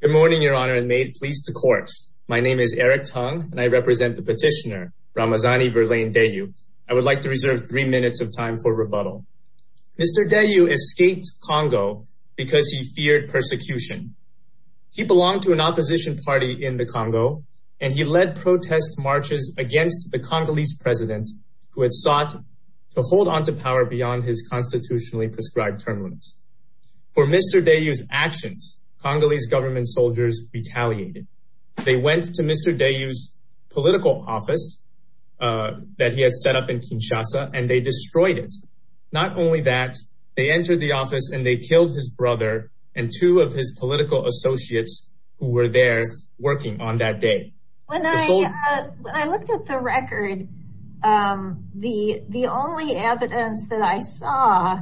Good morning Your Honor and may it please the court. My name is Eric Tung and I represent the petitioner Ramazani Verlaine Deyou. I would like to reserve three minutes of time for rebuttal. Mr. Deyou escaped Congo because he feared persecution. He belonged to an opposition party in the Congo and he led protest marches against the Congolese president who had sought to hold on to power beyond his constitutionally prescribed term limits. For Mr. Deyou's actions Congolese government soldiers retaliated. They went to Mr. Deyou's political office that he had set up in Kinshasa and they destroyed it. Not only that they entered the office and they killed his brother and two of his political associates who were there working on that day. When I looked at the record the the only evidence that I saw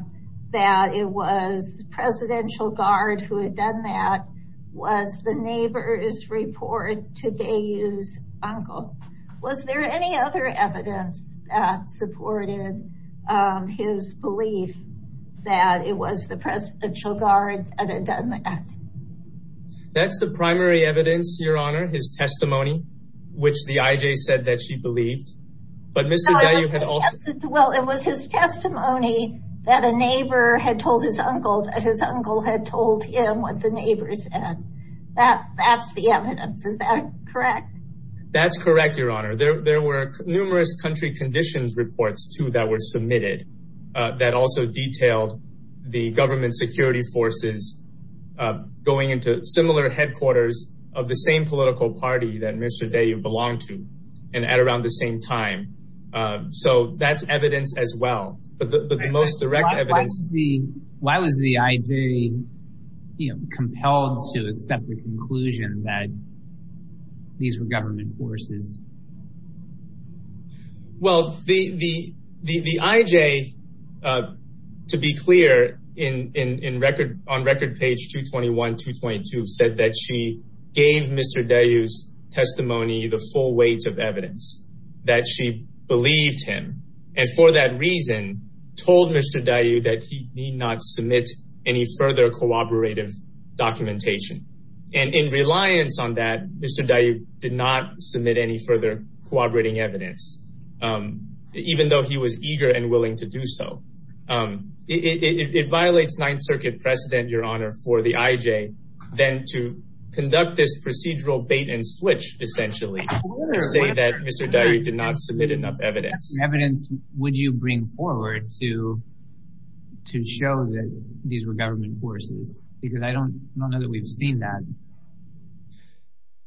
that it was presidential guard who had done that was the neighbor's report to Deyou's uncle. Was there any other evidence that supported his belief that it was the presidential guard that had done that? That's the primary evidence Your Honor his testimony which the IJ said that she believed but Mr. Deyou had also... Well it was his testimony that a neighbor had told his neighbors and that that's the evidence. Is that correct? That's correct Your Honor. There were numerous country conditions reports too that were submitted that also detailed the government security forces going into similar headquarters of the same political party that Mr. Deyou belonged to and at around the same time. So that's evidence as well but the most direct evidence... Why was the IJ compelled to accept the conclusion that these were government forces? Well the IJ to be clear on record page 221, 222 said that she gave Mr. Deyou's testimony the full weight of evidence that she believed him and for that reason told Mr. Deyou that he need not submit any further corroborative documentation and in reliance on that Mr. Deyou did not submit any further corroborating evidence even though he was eager and willing to do so. It violates Ninth Circuit precedent Your Honor for the IJ then to conduct this procedural bait-and-switch essentially to say that Mr. Deyou did not submit enough evidence. Evidence would you bring forward to show that these were government forces? Because I don't know that we've seen that.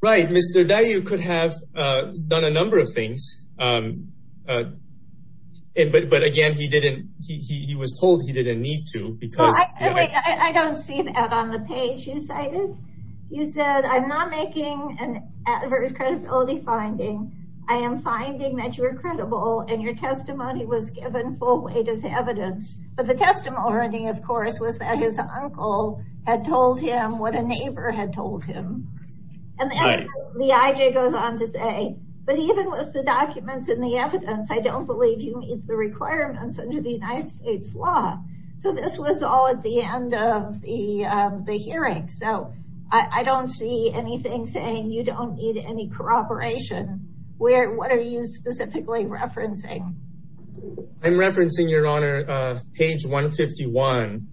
Right, Mr. Deyou could have done a number of things but again he was told he didn't need to. I don't see that on the page you cited. You said I'm not making an adverse credibility finding. I am finding that you are credible and your testimony was given full weight as evidence but the testimony of course was that his uncle had told him what a neighbor had told him and the IJ goes on to say but even with the documents and the evidence I don't believe you meet the requirements under the United States law. So this was all at the end of the hearing. I don't see anything saying you don't need any corroboration. What are you specifically referencing? I'm referencing Your Honor page 151.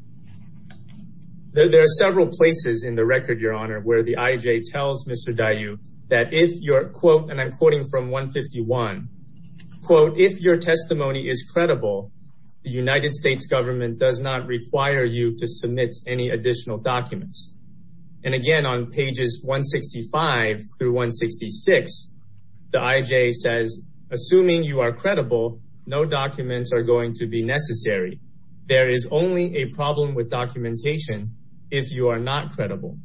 There are several places in the record Your Honor where the IJ tells Mr. Deyou that if your quote and I'm quoting from 151 quote if your testimony is credible the United States government does not require you to submit any additional documents. And again on pages 165 through 166 the IJ says assuming you are credible no documents are going to be necessary. There is only a problem with documentation if you are not credible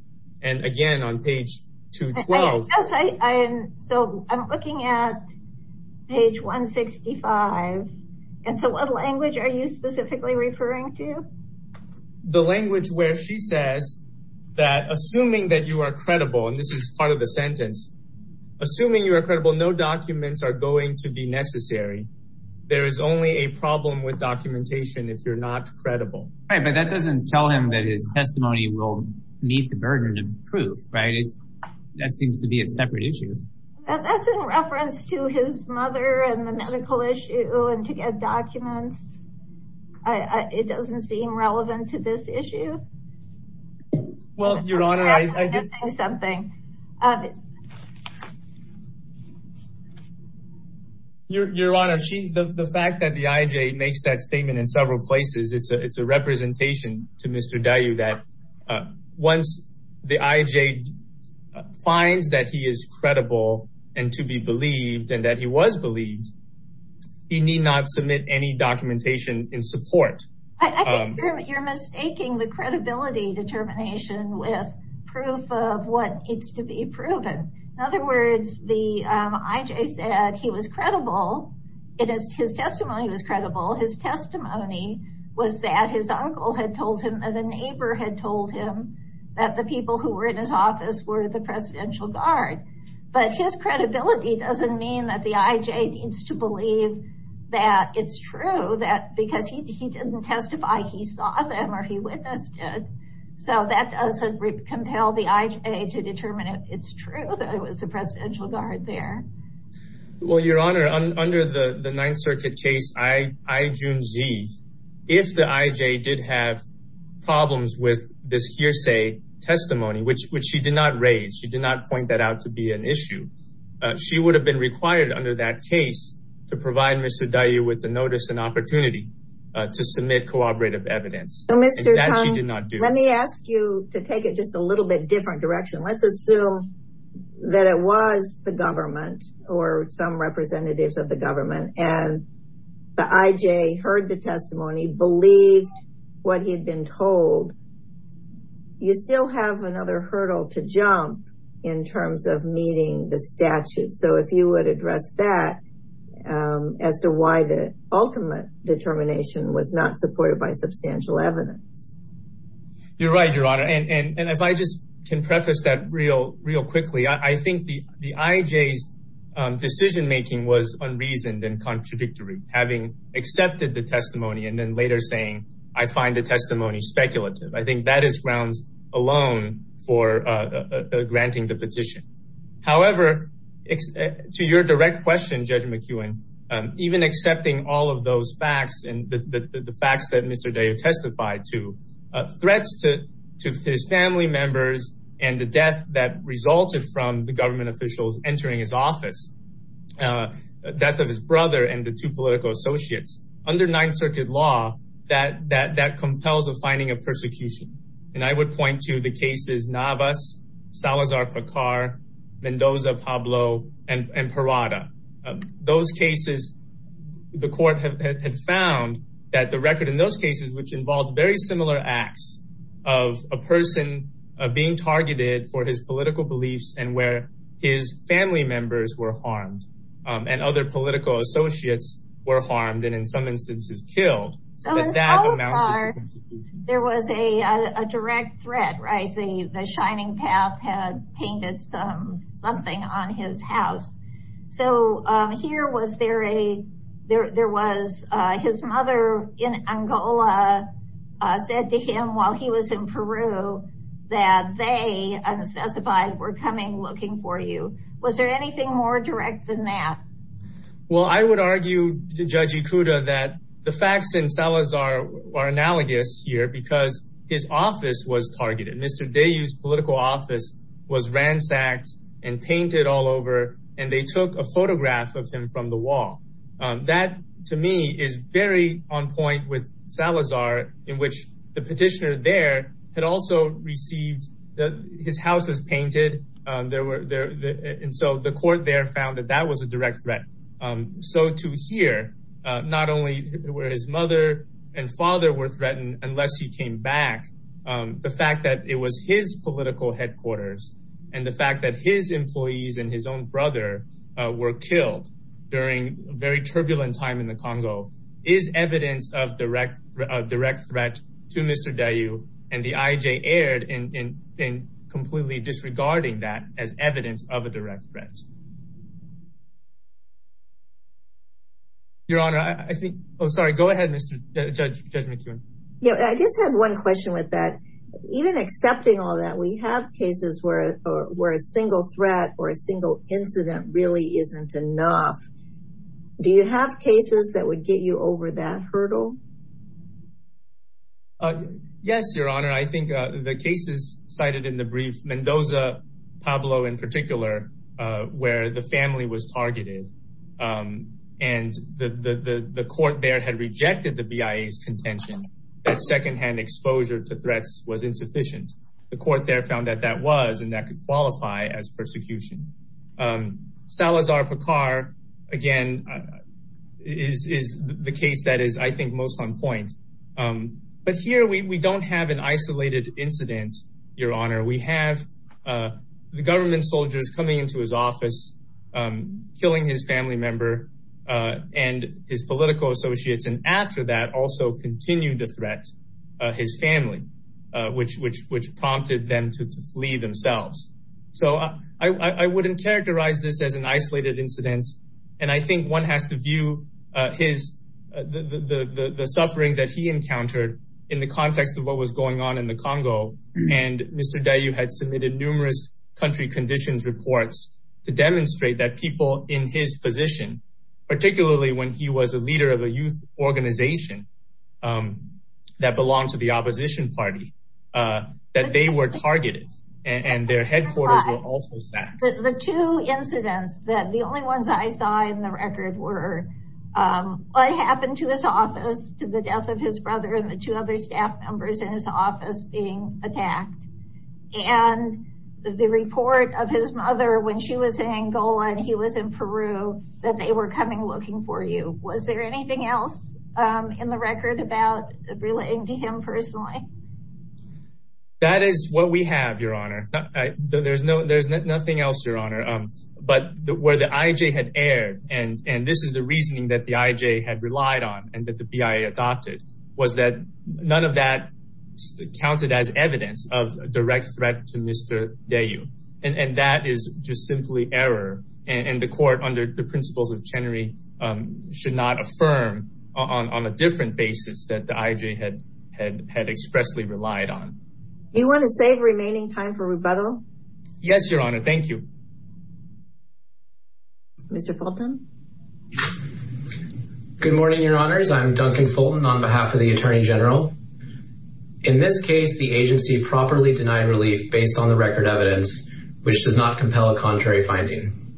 and again on page 212. So I'm looking at page 165 and so what language are you specifically referring to? The language where she says that assuming that you are credible and this is part of the sentence assuming you are credible no documents are going to be necessary. There is only a problem with documentation if you're not credible. Right but that doesn't tell him that his testimony will meet the burden of proof right? That seems to be a separate issue. That's in reference to his mother and the medical issue and to get documents. It doesn't seem relevant to this issue. Well Your Honor I did say something. Your Honor the fact that the IJ makes that statement in several places it's a representation to Mr. Dayu that once the IJ finds that he is credible and to be believed and that he was believed he need not submit any documentation in support. I think you're mistaking the credibility determination with proof of what needs to be proven. In other words the IJ said he was credible it is his testimony was credible. His testimony was that his uncle had told him and the neighbor had told him that the people who were in his office were the presidential guard. But his credibility doesn't mean that the IJ needs to believe that it's true that because he didn't testify he saw them or he witnessed it. So that doesn't compel the IJ to determine it's true that it was the presidential guard there. Well Your Honor under the Ninth Circuit case I-June-Z if the IJ did have problems with this hearsay testimony which she did not raise she did not point that out to be an issue. She would have been required under that case to provide Mr. Dayu with the notice and opportunity to submit cooperative evidence. Let me ask you to take it a little bit different direction. Let's assume that it was the government or some representatives of the government and the IJ heard the testimony believed what he had been told. You still have another hurdle to jump in terms of meeting the statute. So if you would address that as to why the ultimate determination was not supported by substantial evidence. You're right Your Honor and if I just can preface that real quickly I think the IJ's decision making was unreasoned and contradictory having accepted the testimony and then later saying I find the testimony speculative. I think that is grounds alone for granting the petition. However to your direct question Judge McEwen even accepting all of those facts and the facts that Mr. Dayu testified to threats to his family members and the death that resulted from the government officials entering his office death of his brother and the two political associates under Ninth Circuit law that compels a finding of persecution and I would point to the cases Navas, Salazar-Picar, Mendoza-Pablo and Parada. Those cases the court had found that the record in those cases which involved very similar acts of a person being targeted for his political beliefs and where his family members were harmed and other political associates were harmed and in some instances killed. So in Salazar there was a direct threat right the Angola said to him while he was in Peru that they unspecified were coming looking for you. Was there anything more direct than that? Well I would argue Judge Ikuda that the facts in Salazar are analogous here because his office was targeted. Mr. Dayu's political office was ransacked and on point with Salazar in which the petitioner there had also received that his house was painted and so the court there found that that was a direct threat. So to hear not only where his mother and father were threatened unless he came back the fact that it was his political headquarters and the fact that his employees and his own brother were killed during very turbulent time in the Congo is evidence of direct threat to Mr. Dayu and the IJ erred in completely disregarding that as evidence of a direct threat. Your honor I think oh sorry go ahead Judge McEwen. Yeah I just had one question with that even accepting all that we have cases where a single threat or a single incident really isn't enough. Do you have cases that would get you over that hurdle? Yes your honor I think the cases cited in the brief Mendoza Pablo in particular where the family was targeted and the court there had rejected the BIA's contention that secondhand exposure to threats was insufficient. The court there found that that was and that could qualify as persecution. Salazar Picar again is the case that is I think most on point but here we don't have an isolated incident your honor. We have the government soldiers coming into his office killing his family member and his political associates and after that also continue to threat his family which prompted them to flee themselves. So I wouldn't characterize this as an isolated incident and I think one has to view his the suffering that he encountered in the context of what was going on in the Congo and Mr. Dayu had submitted numerous country conditions reports to demonstrate that people in his position particularly when he was a leader of a youth organization that belonged to the opposition party that they were targeted and their headquarters were also sacked. The two incidents that the only ones I saw in the record were what happened to his office to the death of his brother and the two other staff members in his office being attacked and the report of his mother when she was in Angola and he was in Peru that they were coming for you. Was there anything else in the record about relating to him personally? That is what we have your honor. There's no there's nothing else your honor but where the IJ had erred and and this is the reasoning that the IJ had relied on and that the BIA adopted was that none of that counted as evidence of a direct threat to Mr. Dayu and that is just simply error and the court under the principles of Chenery should not affirm on a different basis that the IJ had had expressly relied on. You want to save remaining time for rebuttal? Yes your honor thank you. Mr. Fulton. Good morning your honors I'm Duncan Fulton on behalf of the Attorney General. In this case the agency properly denied relief based on the record evidence which does not compel a contrary finding.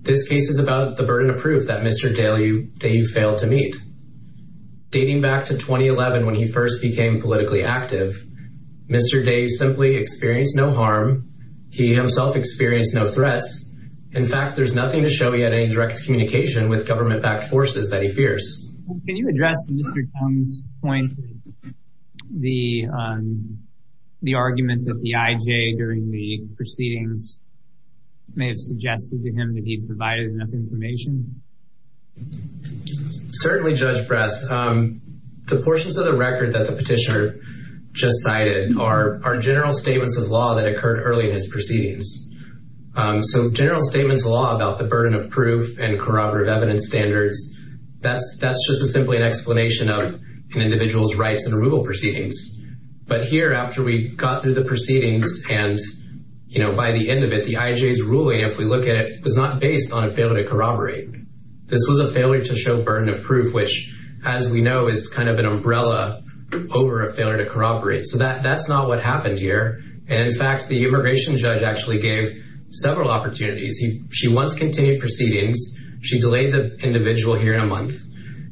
This case is about the burden of proof that Mr. Dayu failed to meet. Dating back to 2011 when he first became politically active Mr. Dayu simply experienced no harm. He himself experienced no threats. In fact there's nothing to show he had any direct communication with government backed forces that he fears. Can you address Mr. Chung's point the the argument that the IJ during the proceedings may have suggested to him that he provided enough information? Certainly Judge Bress. The portions of the record that the petitioner just cited are general statements of law that occurred early in his proceedings. So general statements of law about the burden of proof and corroborative evidence standards that's that's just a simply an explanation of an individual's rights and removal proceedings. But here after we got through the proceedings and you know by the end of it the IJ's ruling if we look at it was not based on a failure to corroborate. This was a failure to show burden of proof which as we know is kind of an umbrella over a failure to corroborate. So that that's not what happened here and in fact the immigration judge actually gave several opportunities. She once continued proceedings she delayed the individual hearing a month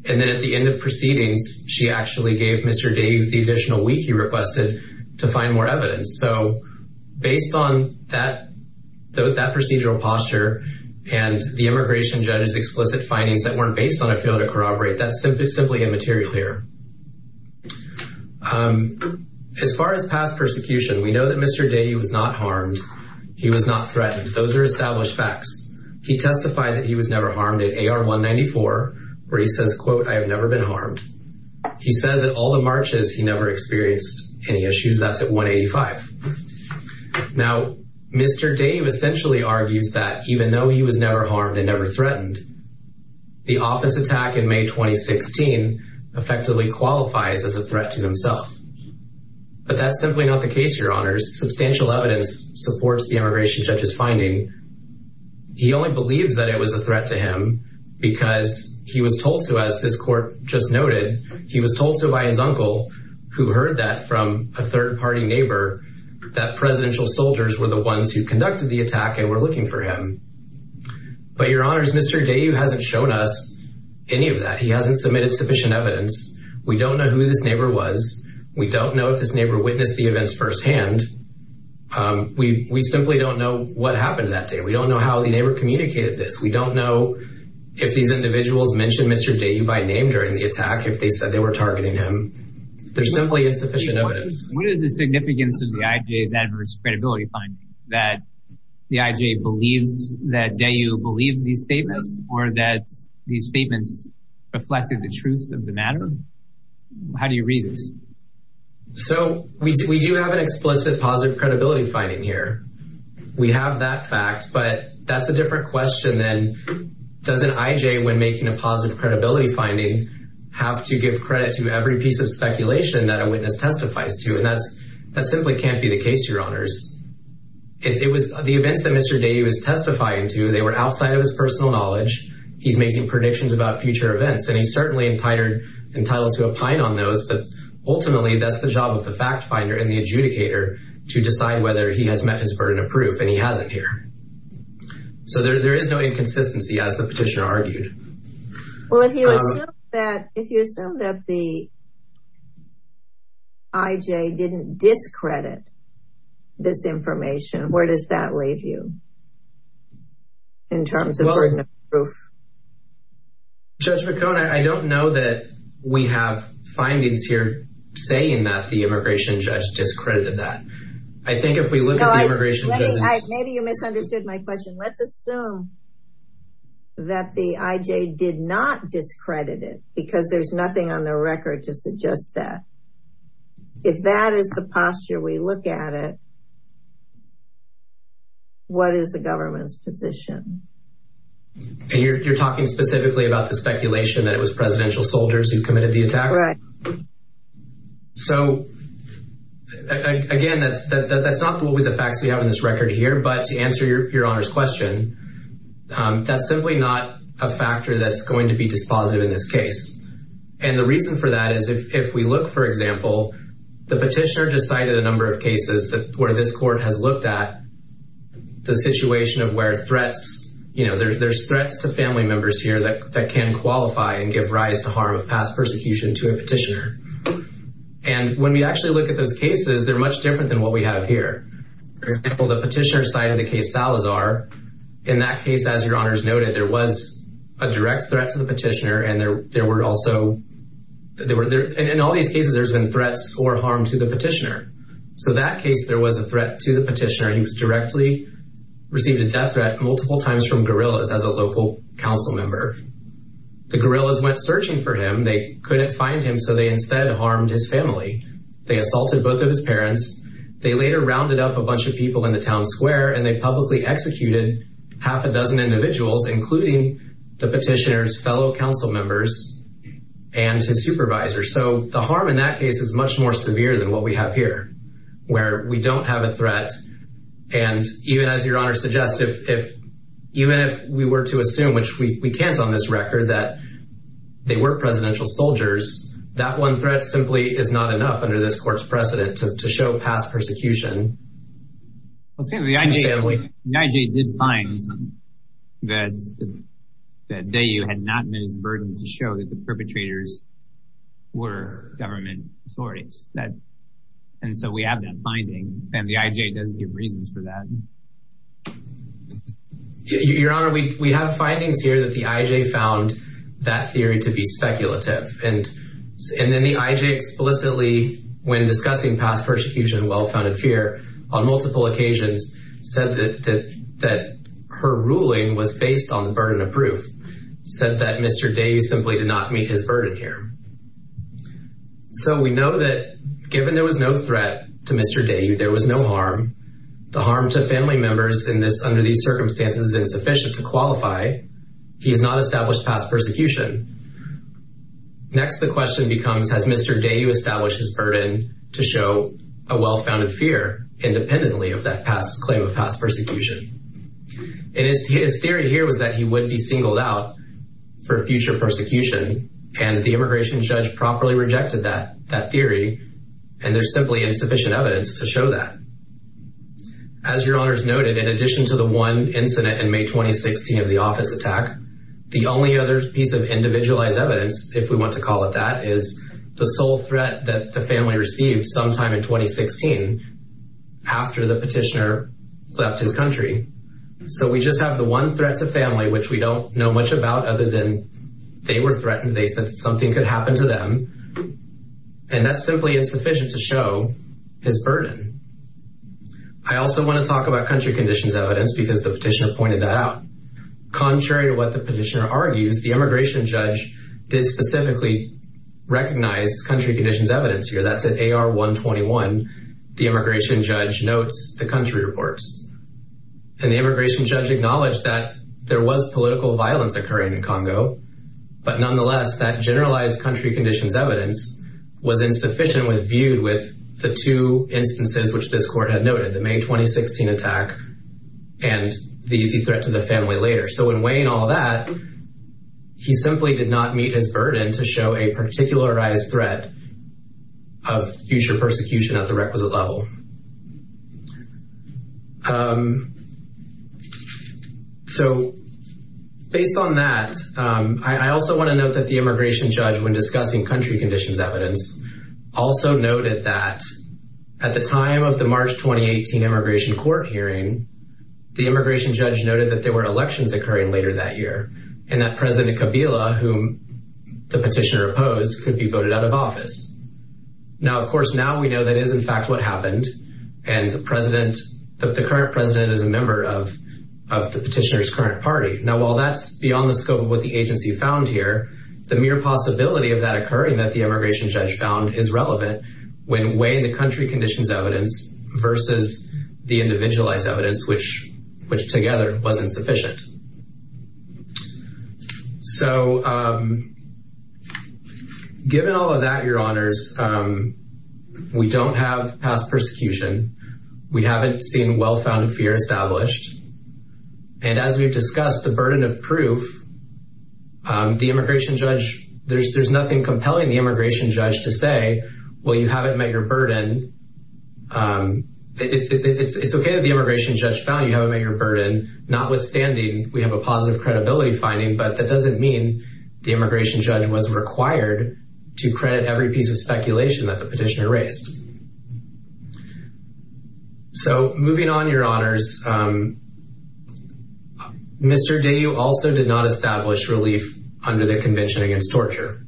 and then at the end of proceedings she actually gave Mr. Day the additional week he requested to find more evidence. So based on that procedural posture and the immigration judge's explicit findings that weren't based on a failure to corroborate that's simply simply immaterial here. As far as past persecution we know that he testified that he was never harmed at AR 194 where he says quote I have never been harmed. He says that all the marches he never experienced any issues that's at 185. Now Mr. Day essentially argues that even though he was never harmed and never threatened the office attack in May 2016 effectively qualifies as a threat to himself. But that's simply not the case your honors. Substantial evidence supports the immigration judge's finding. He only believes that it was a threat to him because he was told to as this court just noted he was told to by his uncle who heard that from a third party neighbor that presidential soldiers were the ones who conducted the attack and were looking for him. But your honors Mr. Day hasn't shown us any of that. He hasn't submitted sufficient evidence. We don't know who this neighbor was. We don't know if this neighbor witnessed the events firsthand. We simply don't know what happened that day. We don't know how the neighbor communicated this. We don't know if these individuals mentioned Mr. Day by name during the attack if they said they were targeting him. There's simply insufficient evidence. What is the significance of the IJ's adverse credibility finding that the IJ believes that Day believed these statements or that these statements reflected the truth of the matter? How do you read this? So we do have an explicit positive credibility finding here. We have that fact but that's a different question than doesn't IJ when making a positive credibility finding have to give credit to every piece of speculation that a witness testifies to and that's that simply can't be the case your honors. It was the events that Mr. Day was testifying to they were outside of his personal knowledge. He's making predictions about future events and he's certainly entitled to opine on those but ultimately that's the job of the fact finder and the adjudicator to decide whether he has met his burden of proof and he hasn't here. So there is no inconsistency as the petitioner argued. Well if you assume that the IJ didn't discredit this information where does that leave you in terms of proof? Judge McCone I don't know that we have findings here saying that the immigration judge discredited that. I think if we look at the immigration maybe you misunderstood my question. Let's assume that the IJ did not discredit it because there's nothing on the record to suggest that. If that is the posture we look at it what is the government's position? And you're talking specifically about the speculation that it was presidential soldiers who committed the attack? Right. So again that's not the facts we have in this record here but to answer your honor's question that's simply not a factor that's going to be dispositive in this example. The petitioner decided a number of cases that where this court has looked at the situation of where threats you know there's threats to family members here that that can qualify and give rise to harm of past persecution to a petitioner. And when we actually look at those cases they're much different than what we have here. For example the petitioner side of the case Salazar in that case as your honors noted there was a direct threat to the petitioner and there were also there were there in all these cases there's been threats or harm to the petitioner. So that case there was a threat to the petitioner he was directly received a death threat multiple times from guerrillas as a local council member. The guerrillas went searching for him they couldn't find him so they instead harmed his family. They assaulted both of his parents they later rounded up a bunch of people in the town square and they publicly executed half a dozen individuals including the petitioner's fellow council members and his supervisor. So the harm in that case is much more severe than what we have here where we don't have a threat and even as your honor suggests if even if we were to assume which we can't on this record that they were presidential soldiers that one threat simply is not enough under this court's precedent to show past persecution. The I.J. did find that that they had not met his burden to show that the perpetrators were government authorities that and so we have that finding and the I.J. does give reasons for that. Your honor we we have findings here that the I.J. found that theory to be speculative and and then the I.J. explicitly when discussing past persecution and well-founded fear on multiple occasions said that that her ruling was based on the burden of proof said that Mr. Dayu simply did not meet his burden here. So we know that given there was no threat to Mr. Dayu there was no harm the harm to family members in this under these circumstances is insufficient to qualify he has not established past persecution. Next the question becomes has Mr. Dayu established his burden to show a well-founded fear independently of that past claim of past persecution and his his theory here was that he would be singled out for future persecution and the immigration judge properly rejected that that theory and there's simply insufficient evidence to show that. As your honors noted in addition to the one incident in May 2016 of the office attack the only other piece of individualized evidence if we want to call it that is the sole threat that the family received sometime in 2016 after the petitioner left his country. So we just have the one threat to family which we don't know much about other than they were threatened they said something could happen to them and that's simply insufficient to show his burden. I also want to talk about country conditions evidence because the petitioner contrary to what the petitioner argues the immigration judge did specifically recognize country conditions evidence here that's at AR 121 the immigration judge notes the country reports and the immigration judge acknowledged that there was political violence occurring in Congo but nonetheless that generalized country conditions evidence was insufficient with viewed with the two instances which this court had noted the May 2016 attack and the threat to the family later so in weighing all that he simply did not meet his burden to show a particularized threat of future persecution at the requisite level. So based on that I also want to note that the immigration judge when discussing country conditions evidence also noted that at the time of the March 2018 immigration court hearing the immigration judge noted that there were elections occurring later that year and that President Kabila whom the petitioner opposed could be voted out of office. Now of course now we know that is in fact what happened and the current president is a member of the petitioner's current party. Now while that's beyond the scope of what the agency found here the mere possibility of that occurring that the immigration judge found is relevant when weighing the country conditions evidence versus the individualized evidence which together wasn't sufficient. So given all of that your honors we don't have past persecution we haven't seen well-founded fear established and as we've discussed the burden of proof the immigration judge there's nothing compelling the immigration judge to say well you haven't met your burden. It's okay that the immigration judge found you haven't met your burden notwithstanding we have a positive credibility finding but that doesn't mean the immigration judge was required to credit every piece of speculation that the petitioner raised. So moving on your honors Mr. Deyou also did not establish relief under the convention against torture.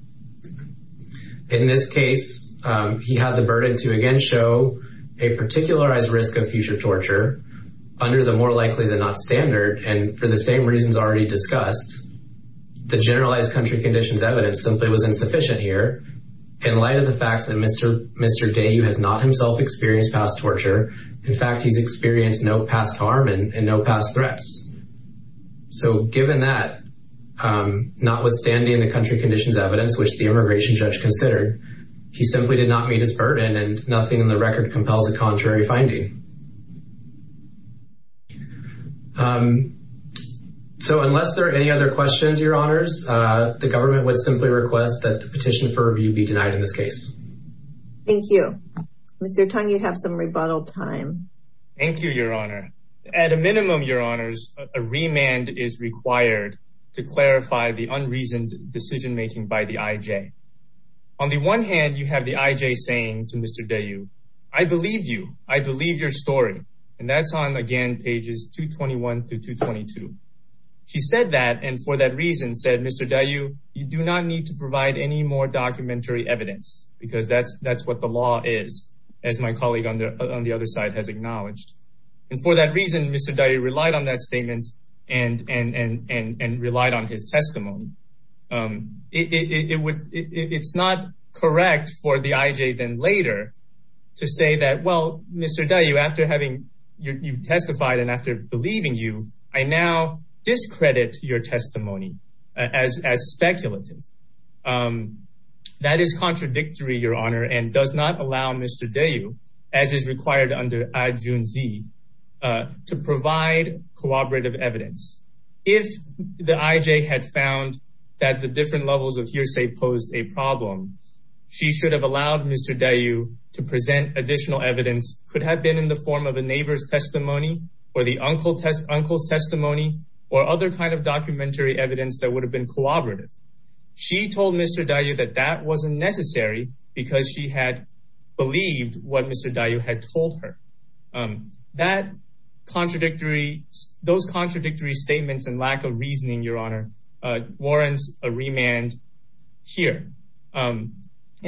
In this case he had the burden to again show a particularized risk of future torture under the more likely than not standard and for the same reasons already discussed the generalized country conditions evidence simply was insufficient here in light of the fact that Mr. Deyou has not himself experienced past torture in fact he's experienced no past harm and no past threats. So given that notwithstanding the country conditions evidence which the immigration judge considered he simply did not meet his burden and nothing in the record compels a contrary finding. So unless there are any other questions your honors the government would simply request that the petition for review be denied in this case. Thank you. Mr. Tong you have some rebuttal Thank you your honor at a minimum your honors a remand is required to clarify the unreasoned decision making by the IJ. On the one hand you have the IJ saying to Mr. Deyou I believe you I believe your story and that's on again pages 221 through 222. She said that and for that reason said Mr. Deyou you do not need to provide any more documentary evidence because that's that's what the law is as my colleague on the on the other side has acknowledged and for that reason Mr. Deyou relied on that statement and and and and relied on his testimony. It would it's not correct for the IJ then later to say that well Mr. Deyou after having you testified and after believing you I now discredit your testimony as as speculative. That is contradictory your honor and does not allow Mr. Deyou as is required under adjunct Z to provide cooperative evidence. If the IJ had found that the different levels of hearsay posed a problem she should have allowed Mr. Deyou to present additional evidence could have been in the form of a neighbor's testimony or the uncle test testimony or other kind of documentary evidence that would have been cooperative. She told Mr. Deyou that that wasn't necessary because she had believed what Mr. Deyou had told her. That contradictory those contradictory statements and lack of reasoning your honor warrants a remand here and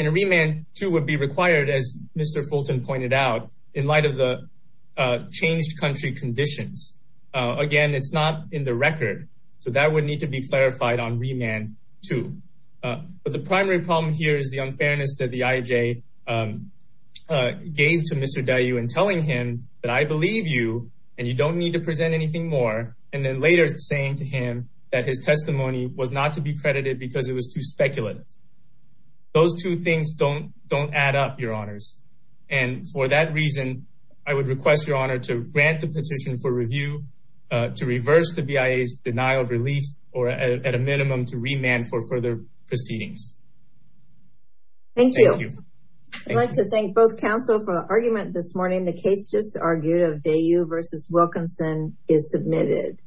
a remand too would be required as Mr. Fulton pointed out in light of the changed country conditions. Again it's not in the record so that would need to be clarified on remand too but the primary problem here is the unfairness that the IJ gave to Mr. Deyou and telling him that I believe you and you don't need to present anything more and then later saying to him that his testimony was not to be credited because it was too speculative. Those two things don't add up your honors and for that reason I would request your honor to grant the petition for review to reverse the BIA's denial of relief or at a minimum to remand for further proceedings. Thank you. I'd like to thank both counsel for the argument this morning the case just argued of Deyou versus Wilkinson is submitted.